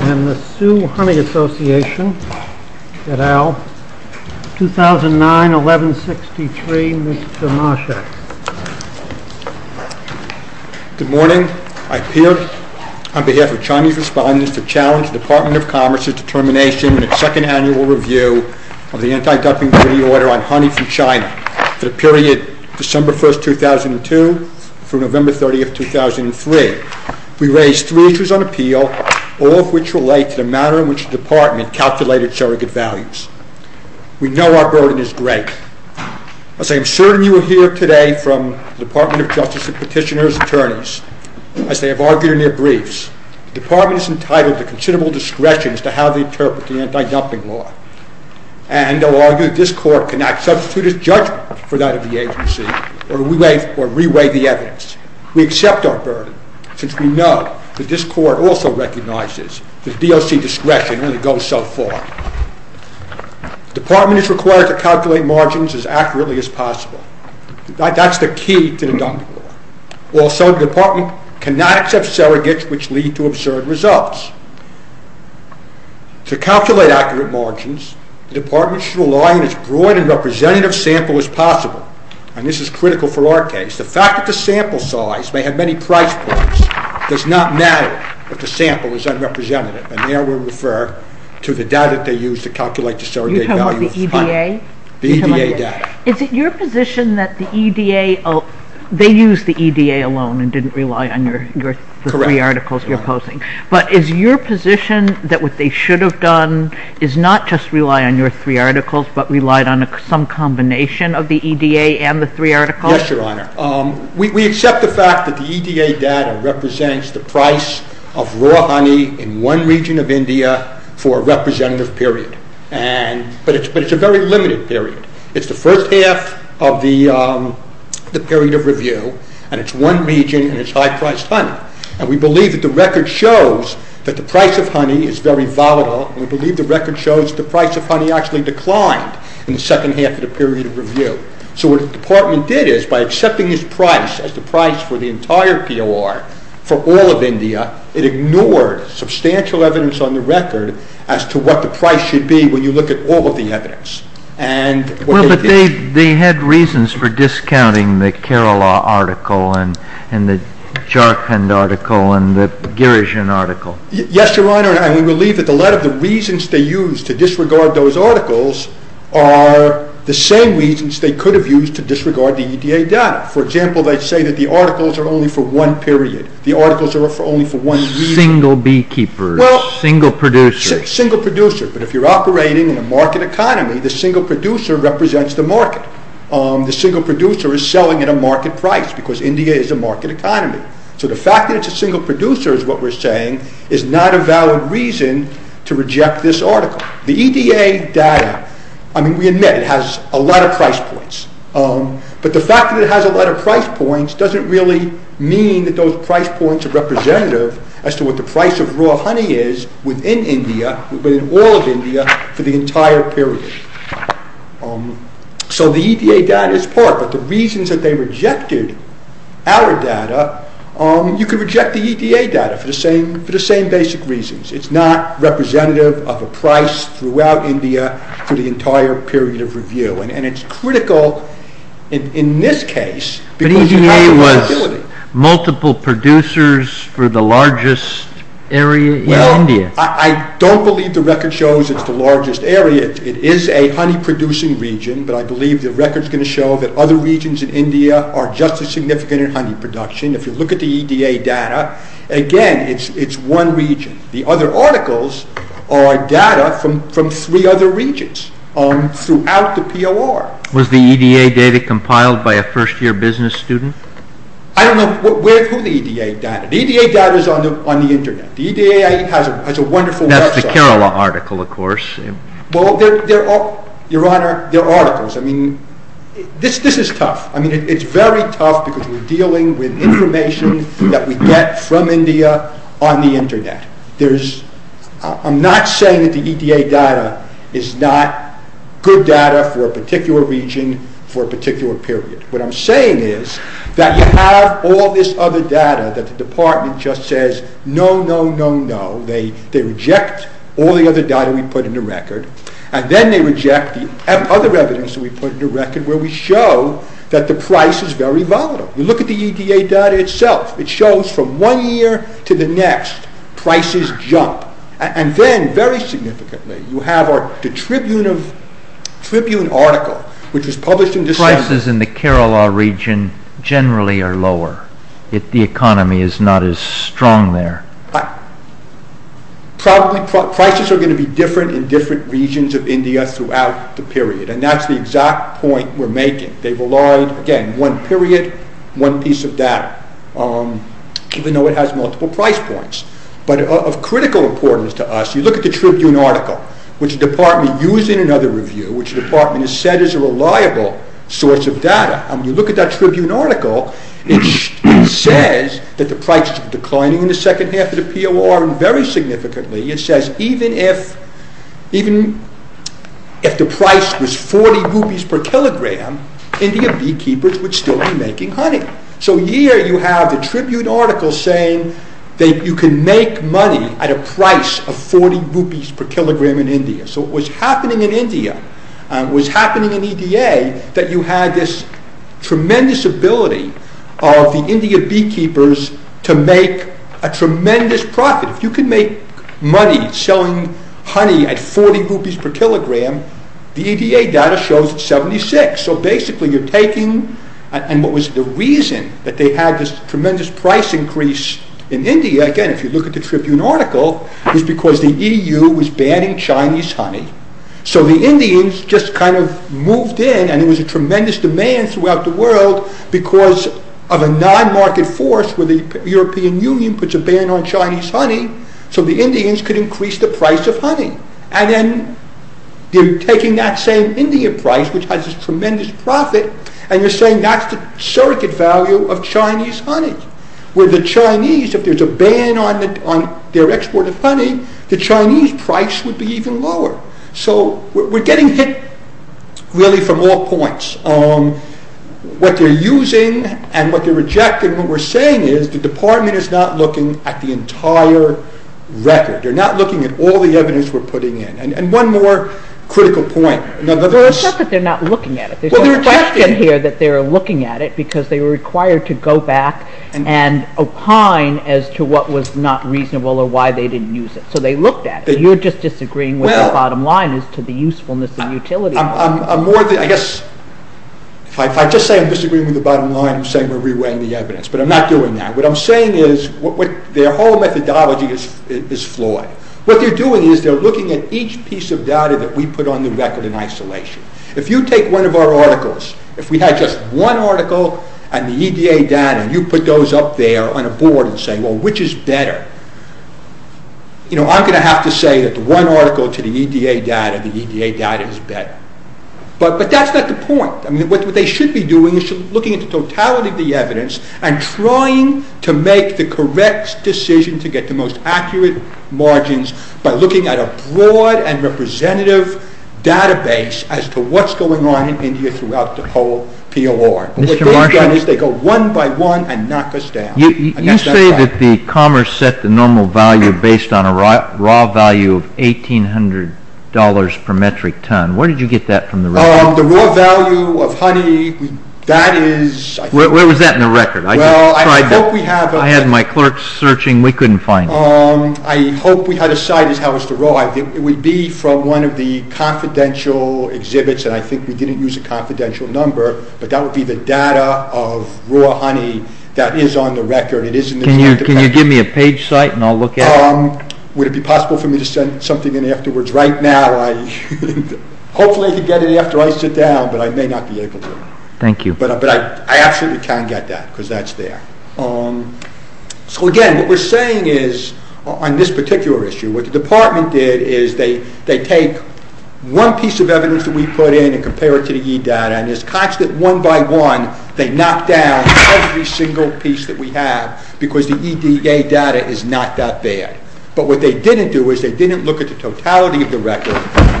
and the Sioux Honey Association, 2009-11-63, Miss Perry, Miss Perry, Miss Perry, Miss Perry, Mr. Marshack. Good morning. I appear on behalf of Chinese respondents to challenge the Department of Commerce's determination in its second annual review of the Anti-dumping Treaty Order on honey from China for the period December 1st, 2002 through November 30th, 2003. We raised three issues on appeal, all of which relate to the manner in which the Department calculates its surrogate values. We know our burden is great. As I am certain you will hear today from the Department of Justice and Petitioner's attorneys, as they have argued in their briefs, the Department is entitled to considerable discretion as to how they interpret the anti-dumping law, and they will argue that this Court cannot substitute its judgment for that of the agency or re-weigh the evidence. We accept our burden, since we know that this Court also recognizes that DOC discretion only goes so far. The Department is required to calculate margins as accurately as possible. That's the key to the dumping law. Also, the Department cannot accept surrogates which lead to absurd results. To calculate accurate margins, the Department should rely on as broad a representative sample as possible, and this is critical for our case. The fact that the sample size may have many price points does not matter if the sample is unrepresentative, and there we refer to the data they used to calculate the surrogate value. You're talking about the EDA? The EDA data. Is it your position that the EDA, they used the EDA alone and didn't rely on the three articles you're posing, but is your position that what they should have done is not just a combination of the EDA and the three articles? Yes, Your Honor. We accept the fact that the EDA data represents the price of raw honey in one region of India for a representative period, but it's a very limited period. It's the first half of the period of review, and it's one region, and it's high-priced honey. We believe that the record shows that the price of honey is very volatile, and we believe the record shows the price of honey actually declined in the second half of the period of review. So what the department did is, by accepting this price as the price for the entire POR for all of India, it ignored substantial evidence on the record as to what the price should be when you look at all of the evidence. Well, but they had reasons for discounting the Kerala article and the Jharkhand article and the Girijan article. Yes, Your Honor, and we believe that a lot of the reasons they used to disregard those articles are the same reasons they could have used to disregard the EDA data. For example, they say that the articles are only for one period, the articles are only for one region. Single beekeepers, single producers. Single producers, but if you're operating in a market economy, the single producer represents the market. The single producer is selling at a market price, because India is a market economy. So the fact that it's a single producer is what we're saying is not a valid reason to reject this article. The EDA data, I mean, we admit it has a lot of price points, but the fact that it has a lot of price points doesn't really mean that those price points are representative as to what the price of raw honey is within India, within all of India, for the entire period. So the EDA data is part, but the reasons that they rejected our data, you could reject the EDA data for the same basic reasons. It's not representative of a price throughout India for the entire period of review, and it's critical in this case, because it has a liability. But EDA was multiple producers for the largest area in India. I don't believe the record shows it's the largest area. It is a honey producing region, but I believe the record's going to show that other regions in India are just as significant in honey production. If you look at the EDA data, again, it's one region. The other articles are data from three other regions throughout the POR. Was the EDA data compiled by a first year business student? I don't know who the EDA data is. The EDA data is on the Internet. The EDA has a wonderful website. That's the Kerala article, of course. Well, Your Honor, they're articles. I mean, this is tough. I mean, it's very tough because we're dealing with information that we get from India on the Internet. I'm not saying that the EDA data is not good data for a particular region for a particular period. What I'm saying is that you have all this other data that the Department just says, no, no, no, no. They reject all the other data we put in the record, and then they reject the other evidence that we put in the record where we show that the price is very volatile. You look at the EDA data itself. It shows from one year to the next, prices jump. And then, very significantly, you have the Tribune article, which was published in December. Prices in the Kerala region generally are lower. The economy is not as strong there. Prices are going to be different in different regions of India throughout the period, and that's the exact point we're making. They've relied, again, on one period, one piece of data, even though it has multiple price points. But of critical importance to us, you look at the Tribune article, which the Department used in another review, which the Department has said is a reliable source of data. You look at that Tribune article, it says that the price is declining in the second half of the POR, and very significantly, it says even if the price was 40 rupees per kilogram, Indian beekeepers would still be making honey. So here you have the Tribune article saying that you can make money at a price of 40 rupees per kilogram in India. So it was happening in India, it was happening in EDA, that you had this tremendous ability of the India beekeepers to make a tremendous profit. If you could make money selling honey at 40 rupees per kilogram, the EDA data shows 76. So basically you're taking, and what was the reason that they had this tremendous price increase in the EU was banning Chinese honey. So the Indians just kind of moved in, and there was a tremendous demand throughout the world because of a non-market force where the European Union puts a ban on Chinese honey, so the Indians could increase the price of honey. And then you're taking that same Indian price, which has this tremendous profit, and you're saying that's the surrogate value of Chinese honey, where the Chinese, if there's a ban on their export of honey, the Chinese price would be even lower. So we're getting hit really from all points. What they're using and what they're rejecting, what we're saying is the department is not looking at the entire record. They're not looking at all the evidence we're putting in. And one more critical point. It's not that they're not looking at it, there's no question here that they're looking at it because they were required to go back and opine as to what was not reasonable or why they didn't use it. So they looked at it. You're just disagreeing with the bottom line as to the usefulness and utility of it. I'm more than, I guess, if I just say I'm disagreeing with the bottom line, I'm saying we're re-weighing the evidence, but I'm not doing that. What I'm saying is their whole methodology is flawed. What they're doing is they're looking at each piece of data that we put on the record in isolation. If you take one of our articles, if we had just one article and the EDA data, and you put those up there on a board and say, well, which is better? You know, I'm going to have to say that the one article to the EDA data, the EDA data is better. But that's not the point. I mean, what they should be doing is looking at the totality of the evidence and trying to make the correct decision to get the most correct database as to what's going on in India throughout the whole POR. What they've done is they go one by one and knock us down. You say that the Commerce set the normal value based on a raw value of $1,800 per metric ton. Where did you get that from the record? The raw value of honey, that is, I think... Where was that in the record? I had my clerks searching. We couldn't find it. I hope we had a site as how it's derived. It would be from one of the confidential exhibits, and I think we didn't use a confidential number, but that would be the data of raw honey that is on the record. It is in this database. Can you give me a page site and I'll look at it? Would it be possible for me to send something in afterwards? Right now, hopefully I can get it after I sit down, but I may not be able to. Thank you. But I absolutely can get that, because that's there. So again, what we're saying is on this particular issue, what the department did is they take one piece of evidence that we put in and compare it to the E-Data, and as constant one by one, they knock down every single piece that we have, because the E-Data is not that bad. But what they didn't do is they didn't look at the totality of the record,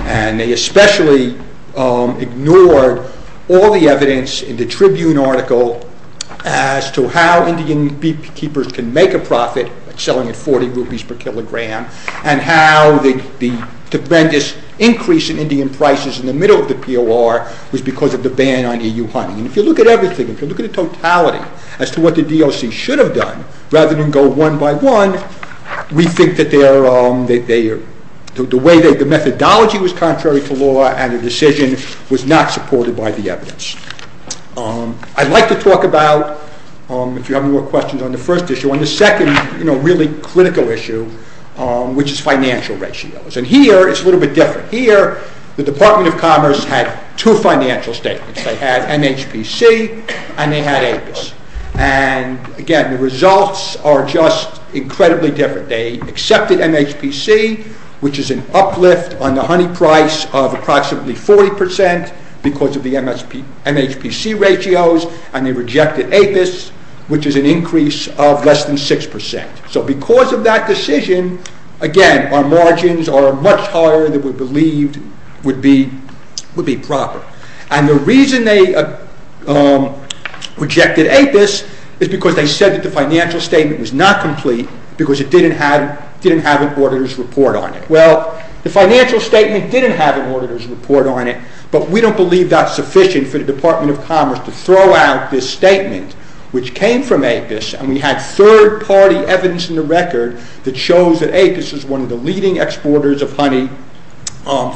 and they especially ignored all the evidence in the Tribune article as to how Indian beekeepers can make a profit selling at 40 rupees per kilogram, and how the tremendous increase in Indian prices in the middle of the POR was because of the ban on EU honey. And if you look at everything, if you look at the totality as to what the DOC should have done, rather than go one by one, we think that the methodology was contrary to law and the decision was not supported by the evidence. I'd like to talk about, if you have more questions on the first issue, on the second really critical issue, which is financial ratios. And here, it's a little bit different. Here, the Department of Commerce had two financial statements. They had MHPC and they had APIS. And again, the results are just incredibly different. They accepted MHPC, which is an uplift on the honey price of approximately 40 percent because of the MHPC ratios, and they rejected APIS, which is an increase of less than 6 percent. So because of that decision, again, our margins are much higher than we believed would be proper. And the reason they rejected APIS is because they said that the financial statement was not complete because it didn't have an auditor's report on it. Well, the financial statement didn't have an auditor's report on it, but we don't believe that's sufficient for the Department of Commerce to throw out this statement, which came from APIS, and we had third-party evidence in the record that shows that APIS is one of the leading exporters of honey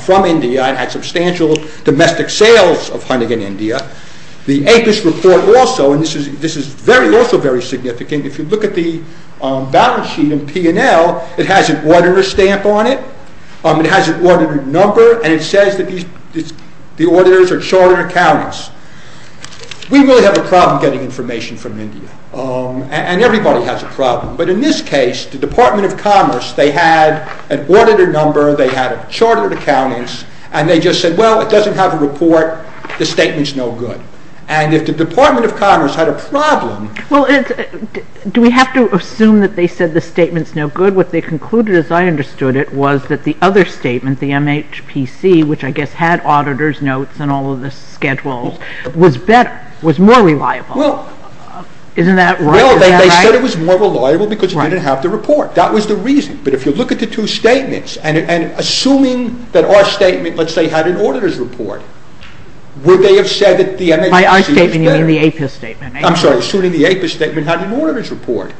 from India and had substantial domestic sales of honey in India. The APIS report also, and this is also very significant, if you look at the balance sheet in P&L, it has an auditor stamp on it, it has an auditor number, and it says that the auditors are chartered accountants. We really have a problem getting information from India, and everybody has a problem. But in this case, the Department of Commerce, they had an auditor number, they had chartered accountants, and they just said, well, it doesn't have a report, the statement's no good. And if the Department of Commerce had a problem... Well, do we have to assume that they said the statement's no good? What they concluded, as I understood it, was that the other statement, the MHPC, which I guess had auditor's notes and all of the schedules, was better, was more reliable. Well... Isn't that right? Well, they said it was more reliable because it didn't have the report. That was the reason. But if you look at the two statements, and assuming that our statement, let's say, had an auditor's report, would they have said that the MHPC was better? By our statement, you mean the APIS statement? I'm sorry, assuming the APIS statement had an auditor's report.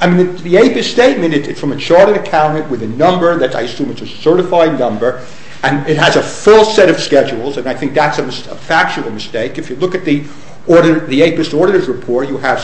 I mean, the APIS statement, it's from a chartered accountant with a number, I assume it's a certified number, and it has a full set of schedules, and I think that's a factual mistake. If you look at the APIS auditor's report, you have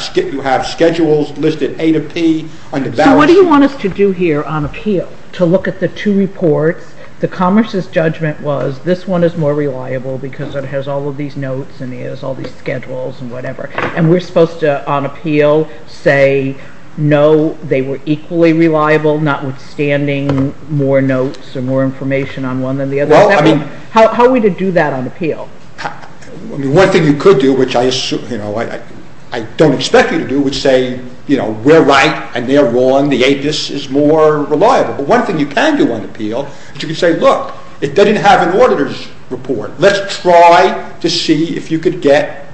schedules listed A to P under balance... So what do you want us to do here on appeal? To look at the two reports? The Commerce's judgment was, this one is more reliable because it has all of these notes and it has all these schedules and whatever, and we're supposed to, on appeal, say, no, they were equally reliable, notwithstanding more notes or more information on one than the other. Well, I mean... How are we to do that on appeal? I mean, one thing you could do, which I don't expect you to do, would say, you know, we're right and they're wrong. The APIS is more reliable. But one thing you can do on appeal is you can say, look, it doesn't have an auditor's report. Let's try to see if you could get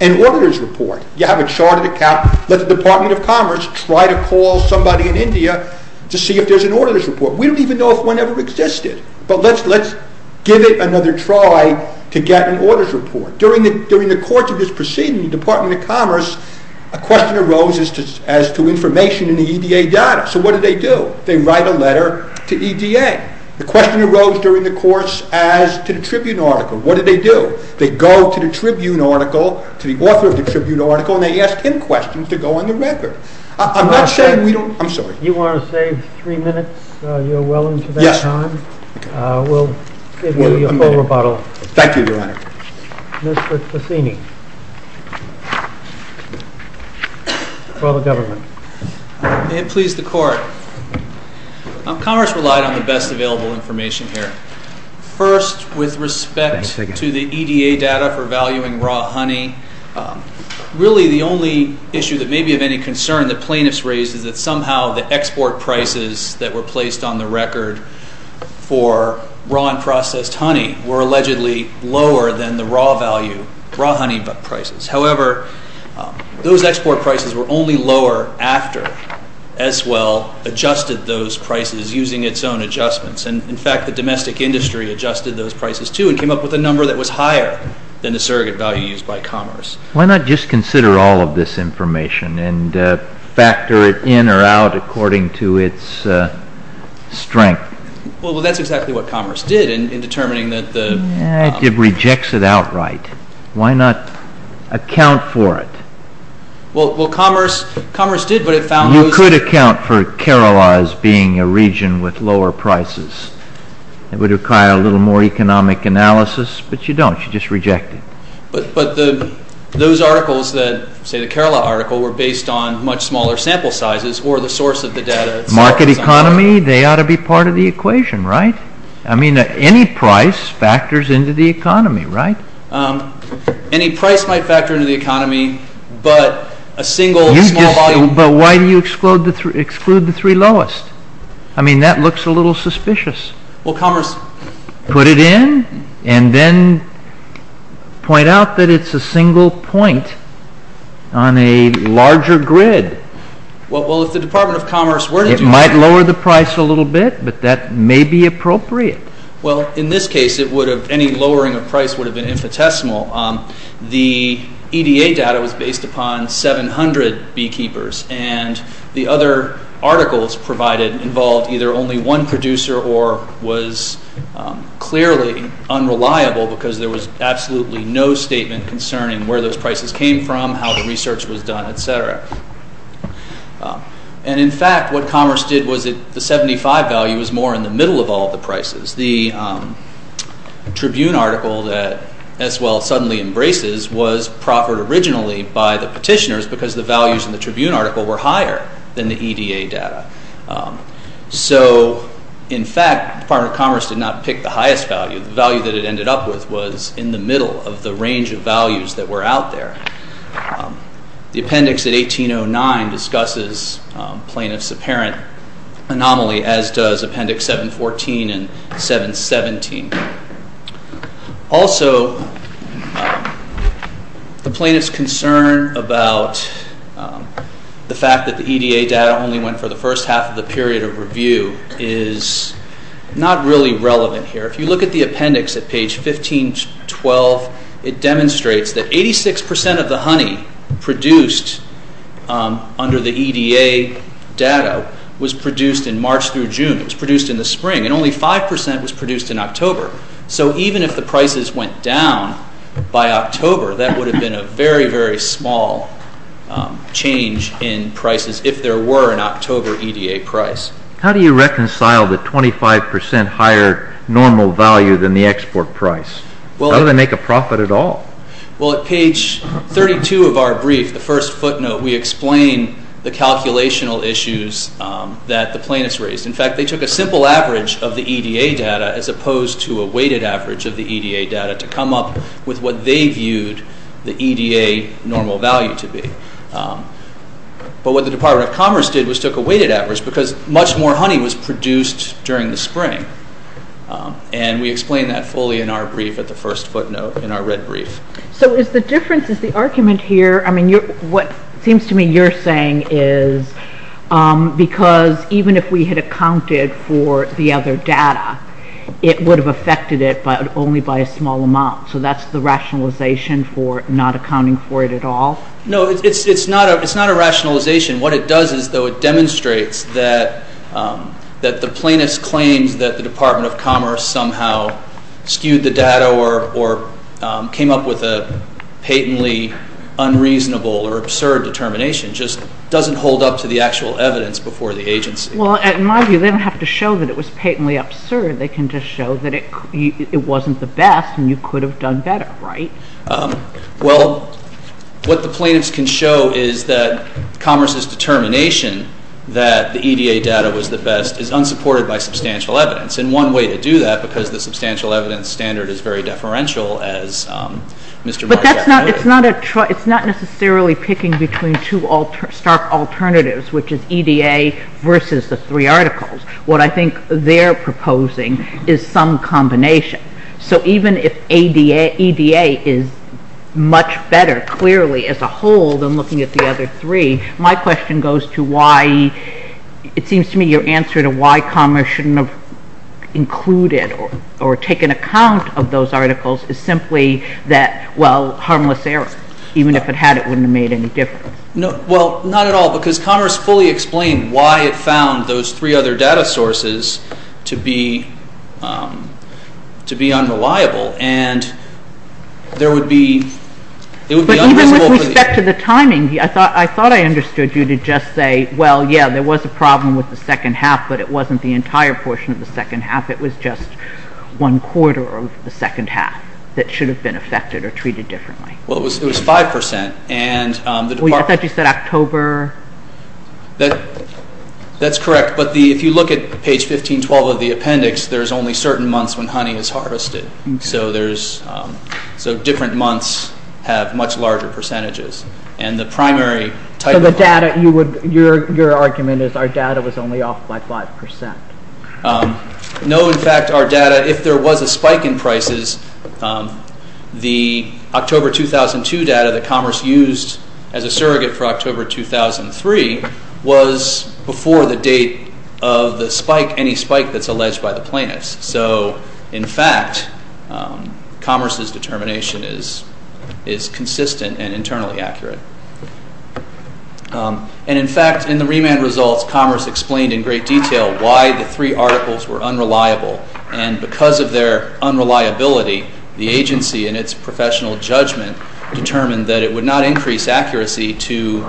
an auditor's report. You have a chartered account. Let the Department of Commerce try to call somebody in India to see if there's an auditor's report. We don't even know if one ever existed. But let's give it another try to get an auditor's report. During the course of this proceeding, the Department of Commerce, a question arose as to information in the EDA data. So what did they do? They write a letter to EDA. The question arose during the course as to the Tribune article. What did they do? They go to the Tribune article, to the author of the Tribune article, and they ask him questions to go on the record. I'm not saying we don't... I'm sorry. You want to save three minutes? You're well into that time. We'll give you a full rebuttal. Thank you, Your Honor. Mr. Cassini, for the government. May it please the Court. Commerce relied on the best available information here. First, with respect to the EDA data for valuing raw honey, really the only issue that may be of any concern that plaintiffs raised is that somehow the export prices that were placed on the record for raw and processed honey were allegedly lower than the raw value, raw honey prices. However, those export prices were only lower after S. Well adjusted those prices using its own adjustments. In fact, the domestic industry adjusted those prices too and came up with a number that was higher than the surrogate value used by Commerce. Why not just consider all of this information and factor it in or out according to its strength? Well, that's exactly what Commerce did in determining that the... It rejects it outright. Why not account for it? Well, Commerce did, but it found... You could account for Kerala as being a region with lower prices. It would require a little more economic analysis, but you don't. You just reject it. But those articles that, say the Kerala article, were based on much smaller sample sizes or the source of the data... Market economy, they ought to be part of the equation, right? I mean, any price factors into the economy, right? Any price might factor into the economy, but a single small volume... But why do you exclude the three lowest? I mean, that looks a little suspicious. Well, Commerce... Put it in and then point out that it's a single point on a larger grid. Well, if the Department of Commerce were to do that... It might lower the price a little bit, but that may be appropriate. Well, in this case, any lowering of price would have been infinitesimal. The EDA data was based upon 700 beekeepers, and the other articles provided involved either only one producer or was clearly unreliable because there was absolutely no statement concerning where those prices came from, how the research was done, etc. And in fact, what Commerce did was the 75 value was more in the middle of all the prices. The Tribune article that S. Wells suddenly embraces was proffered originally by the petitioners because the values in the Tribune article were higher than the EDA data. So in fact, the Department of Commerce did not pick the highest value. The value that it ended up with was in the middle of the range of values that were out there. The appendix at 1809 discusses plaintiff's apparent anomaly, as does Appendix 714 and 717. Also, the plaintiff's concern about the fact that the EDA data only went for the first half of the period of review is not really relevant here. If you look at the appendix at page 1512, it demonstrates that 86% of the honey produced under the EDA data was produced in March through June. It was produced in the spring, and only 5% was produced in October. So even if the prices went down by October, that would have been a very, very small change in prices if there were an October EDA price. How do you reconcile the 25% higher normal value than the export price? How do they make a profit at all? Well, at page 32 of our brief, the first footnote, we explain the calculational issues that the plaintiffs raised. In fact, they took a simple average of the EDA data as opposed to a weighted average of the EDA data to come up with what they viewed the EDA normal value to be. But what the Department of Commerce did was took a weighted average because much more honey was produced during the spring. And we explain that fully in our brief at the first footnote in our red brief. So is the difference, is the argument here, I mean, what seems to me you're saying is because even if we had accounted for the other data, it would have affected it only by a small amount. So that's the rationalization for not accounting for it at all? No, it's not a rationalization. What it does is though it demonstrates that the plaintiff's claims that the Department of Commerce somehow skewed the data or came up with a patently unreasonable or absurd determination just doesn't hold up to the actual evidence before the agency. Well, in my view, they don't have to show that it was patently absurd. They can just show that it wasn't the best and you could have done better, right? Well, what the plaintiffs can show is that Commerce's determination that the EDA data was the best is unsupported by substantial evidence. And one way to do that because the substantial evidence standard is very deferential as Mr. Margot noted. But that's not, it's not necessarily picking between two stark alternatives which is EDA versus the three articles. What I think they're proposing is some combination. So even if EDA is much better clearly as a whole than looking at the other three, my question goes to why, it seems to me your answer to why Commerce shouldn't have included or taken account of those articles is simply that, well, harmless error. Even if it had, it wouldn't have made any difference. No, well, not at all because Commerce fully explained why it found those three other data sources to be unreliable and there would be, it would be unreasonable. But even with respect to the timing, I thought I understood you to just say, well, yeah, there was a problem with the second half but it wasn't the entire portion of the second half. It was just one quarter of the second half that should have been affected or treated differently. Well, it was 5% and the department. I thought you said October. That's correct. But if you look at page 1512 of the appendix, there's only certain months when honey is harvested. So there's, so different months have much larger percentages. And the primary type of. So the data, your argument is our data was only off by 5%. No, in fact, our data, if there was a spike in prices, the October 2002 data that Commerce used as a surrogate for October 2003 was before the date of the spike, any spike that's alleged by the plaintiffs. So in fact, Commerce's determination is consistent and internally accurate. And in fact, in the remand results, Commerce explained in great detail why the three articles were unreliable. And because of their unreliability, the agency and its professional judgment determined that it would not increase accuracy to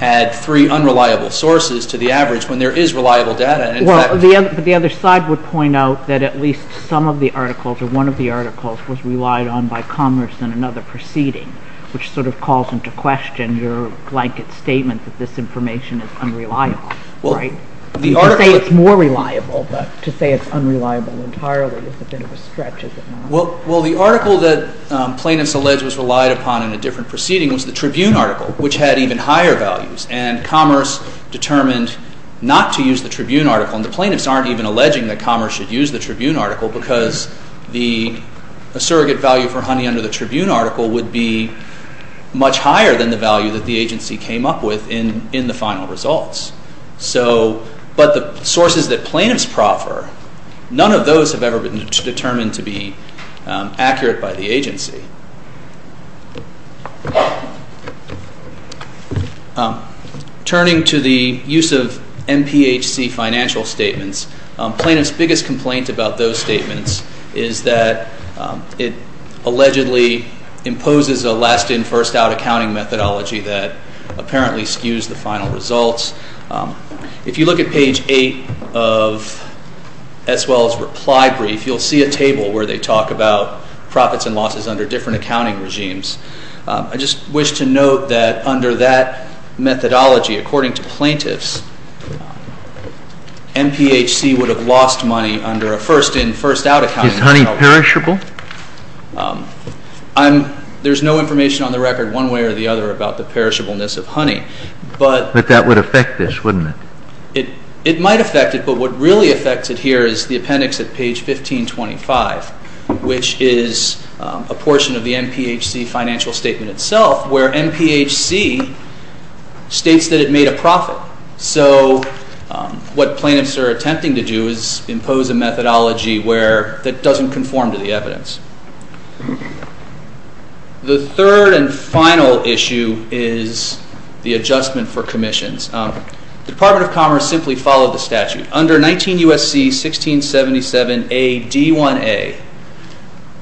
add three unreliable sources to the average when there is reliable data. Well, the other side would point out that at least some of the articles or one of the articles was relied on by Commerce in another proceeding, which sort of calls into question your blanket statement that this information is unreliable, right? To say it's more reliable, but to say it's unreliable entirely is a bit of a stretch, isn't it? Well, the article that plaintiffs alleged was relied upon in a different proceeding was the Tribune article, which had even higher values. And Commerce determined not to use the Tribune article. And the plaintiffs aren't even alleging that Commerce should use the Tribune article because the surrogate value for honey under the Tribune article would be much higher than the value that the agency came up with in the final results. So, but the sources that plaintiffs proffer, none of those have ever been determined to be accurate by the agency. Turning to the use of MPHC financial statements, plaintiffs' biggest complaint about those statements is that it allegedly imposes a last-in, first-out accounting methodology that apparently skews the final results. If you look at page 8 of S. Wells' reply brief, you'll see a table where they talk about profits and losses under different accounting regimes. I just wish to note that under that methodology, according to plaintiffs, MPHC would have lost money under a first-in, first-out accounting methodology. Is honey perishable? I'm, there's no information on the record one way or the other about the perishableness of honey, but... But that would affect this, wouldn't it? It might affect it, but what really affects it here is the appendix at page 1525, which is a portion of the MPHC financial statement itself, where MPHC states that it made a profit. So what plaintiffs are attempting to do is impose a methodology where, that doesn't conform to the evidence. The third and final issue is the adjustment for commissions. The Department of Commerce simply followed the statute. Under 19 U.S.C. 1677 A.D. 1A,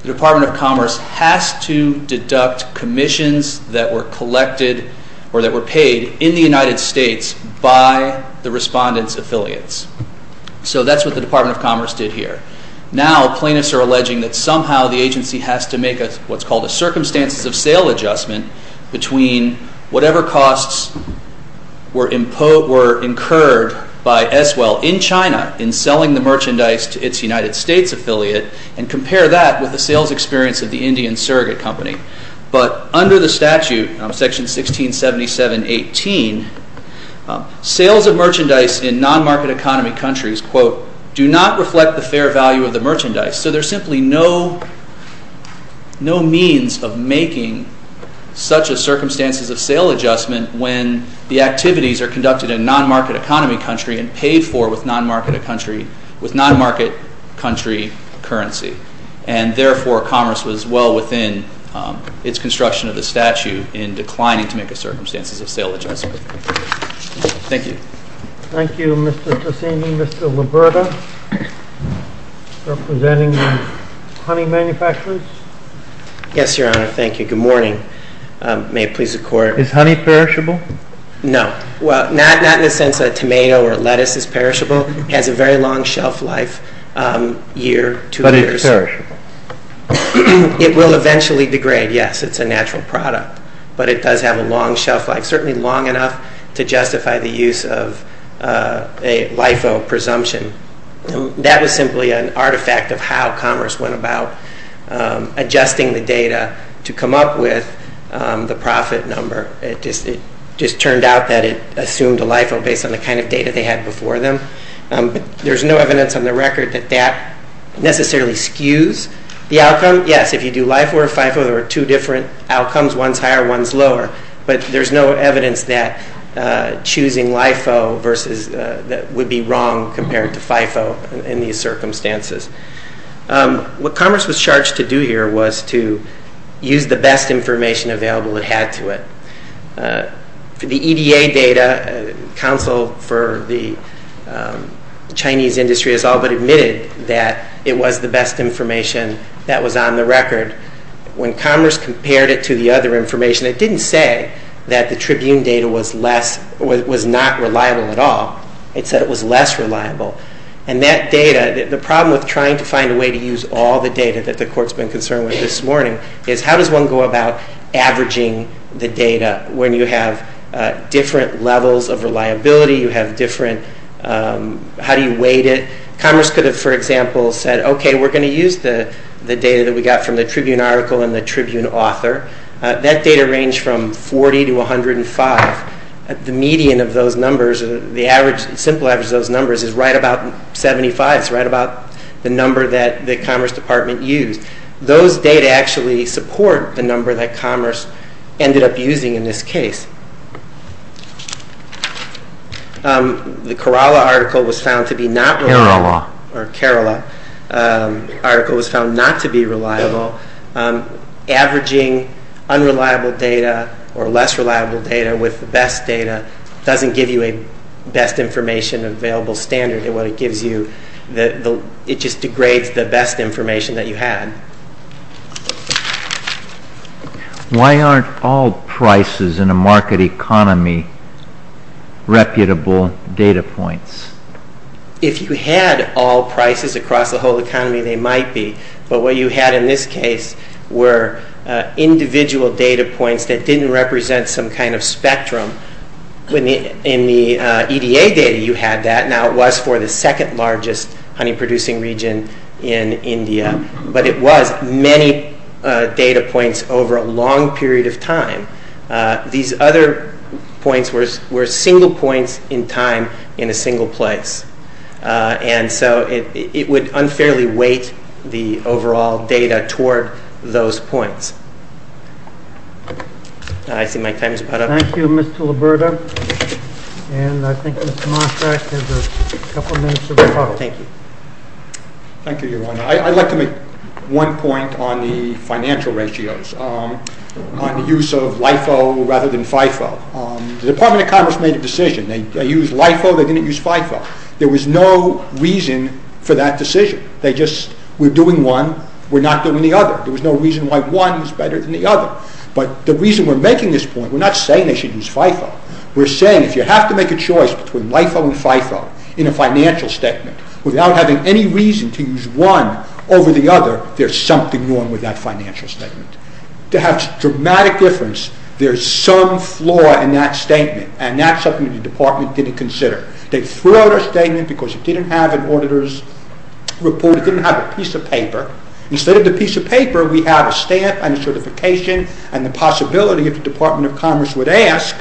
the Department of Commerce has to deduct commissions that were collected or that were paid in the United States by the respondent's affiliates. So that's what the Department of Commerce did here. Now, plaintiffs are alleging that somehow the agency has to make what's called a circumstances of sale adjustment between whatever costs were incurred by S. Well in China in selling the merchandise to its United States affiliate, and compare that with the sales experience of the Indian surrogate company. But under the statute, section 1677-18, sales of merchandise in non-market economy countries, quote, do not reflect the fair value of the merchandise. So there's simply no means of making such a circumstances of sale adjustment when the activities are conducted in non-market economy country and paid for with non-market country currency. And therefore, commerce was well within its construction of the statute in declining to make a circumstances of sale adjustment. Thank you. Thank you, Mr. Tresini. Mr. Liberta, representing the honey manufacturers. Yes, Your Honor. Thank you. Good morning. May it please the Court. Is honey perishable? No. Well, not in the sense that tomato or lettuce is perishable. It has a very long shelf life, a year, two years. But it's perishable? It will eventually degrade, yes. It's a natural product. But it does have a long shelf life. Long enough to justify the use of a LIFO presumption. That was simply an artifact of how commerce went about adjusting the data to come up with the profit number. It just turned out that it assumed a LIFO based on the kind of data they had before them. There's no evidence on the record that that necessarily skews the outcome. Yes, if you do LIFO or FIFO, there are two different outcomes. One's higher. One's lower. But there's no evidence that choosing LIFO versus that would be wrong compared to FIFO in these circumstances. What commerce was charged to do here was to use the best information available it had to it. For the EDA data, counsel for the Chinese industry has all but admitted that it was the best information that was on the record. When commerce compared it to the other information, it didn't say that the Tribune data was less, was not reliable at all. It said it was less reliable. And that data, the problem with trying to find a way to use all the data that the court has been concerned with this morning is how does one go about averaging the data when you have different levels of reliability? You have different, how do you weight it? Commerce could have, for example, said, okay, we're going to use the data that we got from the Tribune article and the Tribune author. That data ranged from 40 to 105. The median of those numbers, the average, the simple average of those numbers is right about 75. It's right about the number that the commerce department used. Those data actually support the number that commerce ended up using in this case. The Kerala article was found to be not reliable. Kerala. Or Kerala. Article was found not to be reliable. Averaging unreliable data or less reliable data with the best data doesn't give you a best information available standard in what it gives you. It just degrades the best information that you had. Why aren't all prices in a market economy reputable data points? If you had all prices across the whole economy, they might be. But what you had in this case were individual data points that didn't represent some kind of spectrum. In the EDA data, you had that. Now, it was for the second largest honey producing region in India. But it was many data points over a long period of time. These other points were single points in time in a single place. And so, it would unfairly weight the overall data toward those points. I see my time is about up. Thank you, Mr. Liberda. And I think Mr. Mosvack has a couple minutes of his talk. Thank you. Thank you, Yolanda. I'd like to make one point on the financial ratios. On the use of LIFO rather than FIFO. The Department of Commerce made a decision. They used LIFO. They didn't use FIFO. There was no reason for that decision. We're doing one. We're not doing the other. There was no reason why one was better than the other. But the reason we're making this point, we're not saying they should use FIFO. We're saying if you have to make a choice between LIFO and FIFO in a financial statement without having any reason to use one over the other, there's something wrong with that financial statement. To have dramatic difference, there's some flaw in that statement. And that's something the Department didn't consider. They threw out our statement because it didn't have an auditor's report. It didn't have a piece of paper. Instead of the piece of paper, we have a stamp and a certification and the possibility if the Department of Commerce would ask,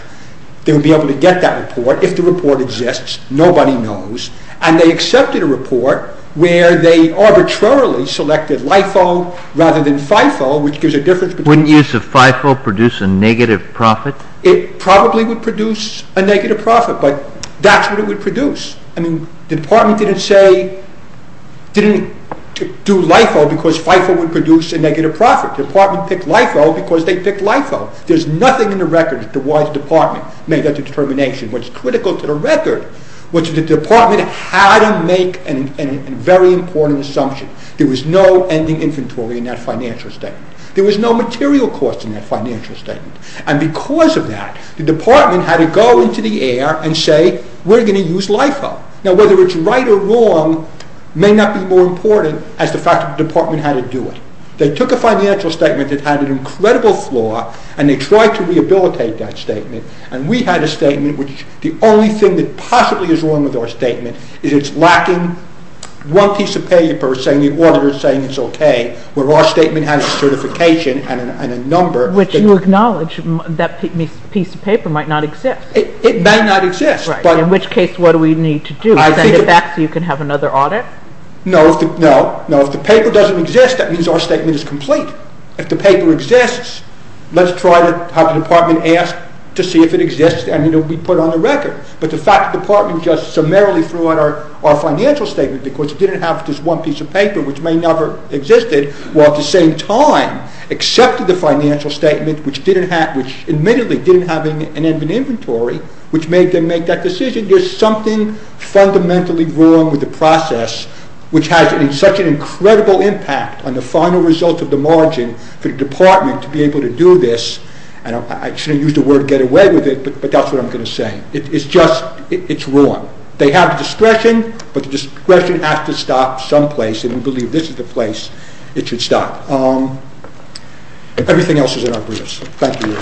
they would be able to get that report if the report exists. Nobody knows. And they accepted a report where they arbitrarily selected LIFO rather than FIFO, which gives a difference. Wouldn't use of FIFO produce a negative profit? It probably would produce a negative profit. But that's what it would produce. I mean, the Department didn't say, didn't do LIFO because FIFO would produce a negative profit. The Department picked LIFO because they picked LIFO. There's nothing in the record that the WISE Department made that determination. What's critical to the record was the Department had to make a very important assumption. There was no ending inventory in that financial statement. There was no material cost in that financial statement. And because of that, the Department had to go into the air and say, we're going to use LIFO. Now, whether it's right or wrong may not be more important as the fact that the Department had to do it. They took a financial statement that had an incredible flaw and they tried to rehabilitate that statement. And we had a statement which the only thing that possibly is wrong with our statement is it's lacking one piece of paper saying the auditor is saying it's okay, where our certification and a number. Which you acknowledge, that piece of paper might not exist. It may not exist. In which case, what do we need to do? Send it back so you can have another audit? No, no. No, if the paper doesn't exist, that means our statement is complete. If the paper exists, let's try to have the Department ask to see if it exists and it will be put on the record. But the fact the Department just summarily threw out our financial statement because it didn't have just one piece of paper, which may never have existed, while at the same time accepted the financial statement, which admittedly didn't have an inventory, which made them make that decision. There's something fundamentally wrong with the process, which has such an incredible impact on the final result of the margin for the Department to be able to do this. And I shouldn't use the word get away with it, but that's what I'm going to say. It's just, it's wrong. They have discretion, but the discretion has to stop someplace. And we believe this is the place it should stop. Everything else is in our briefs. Thank you.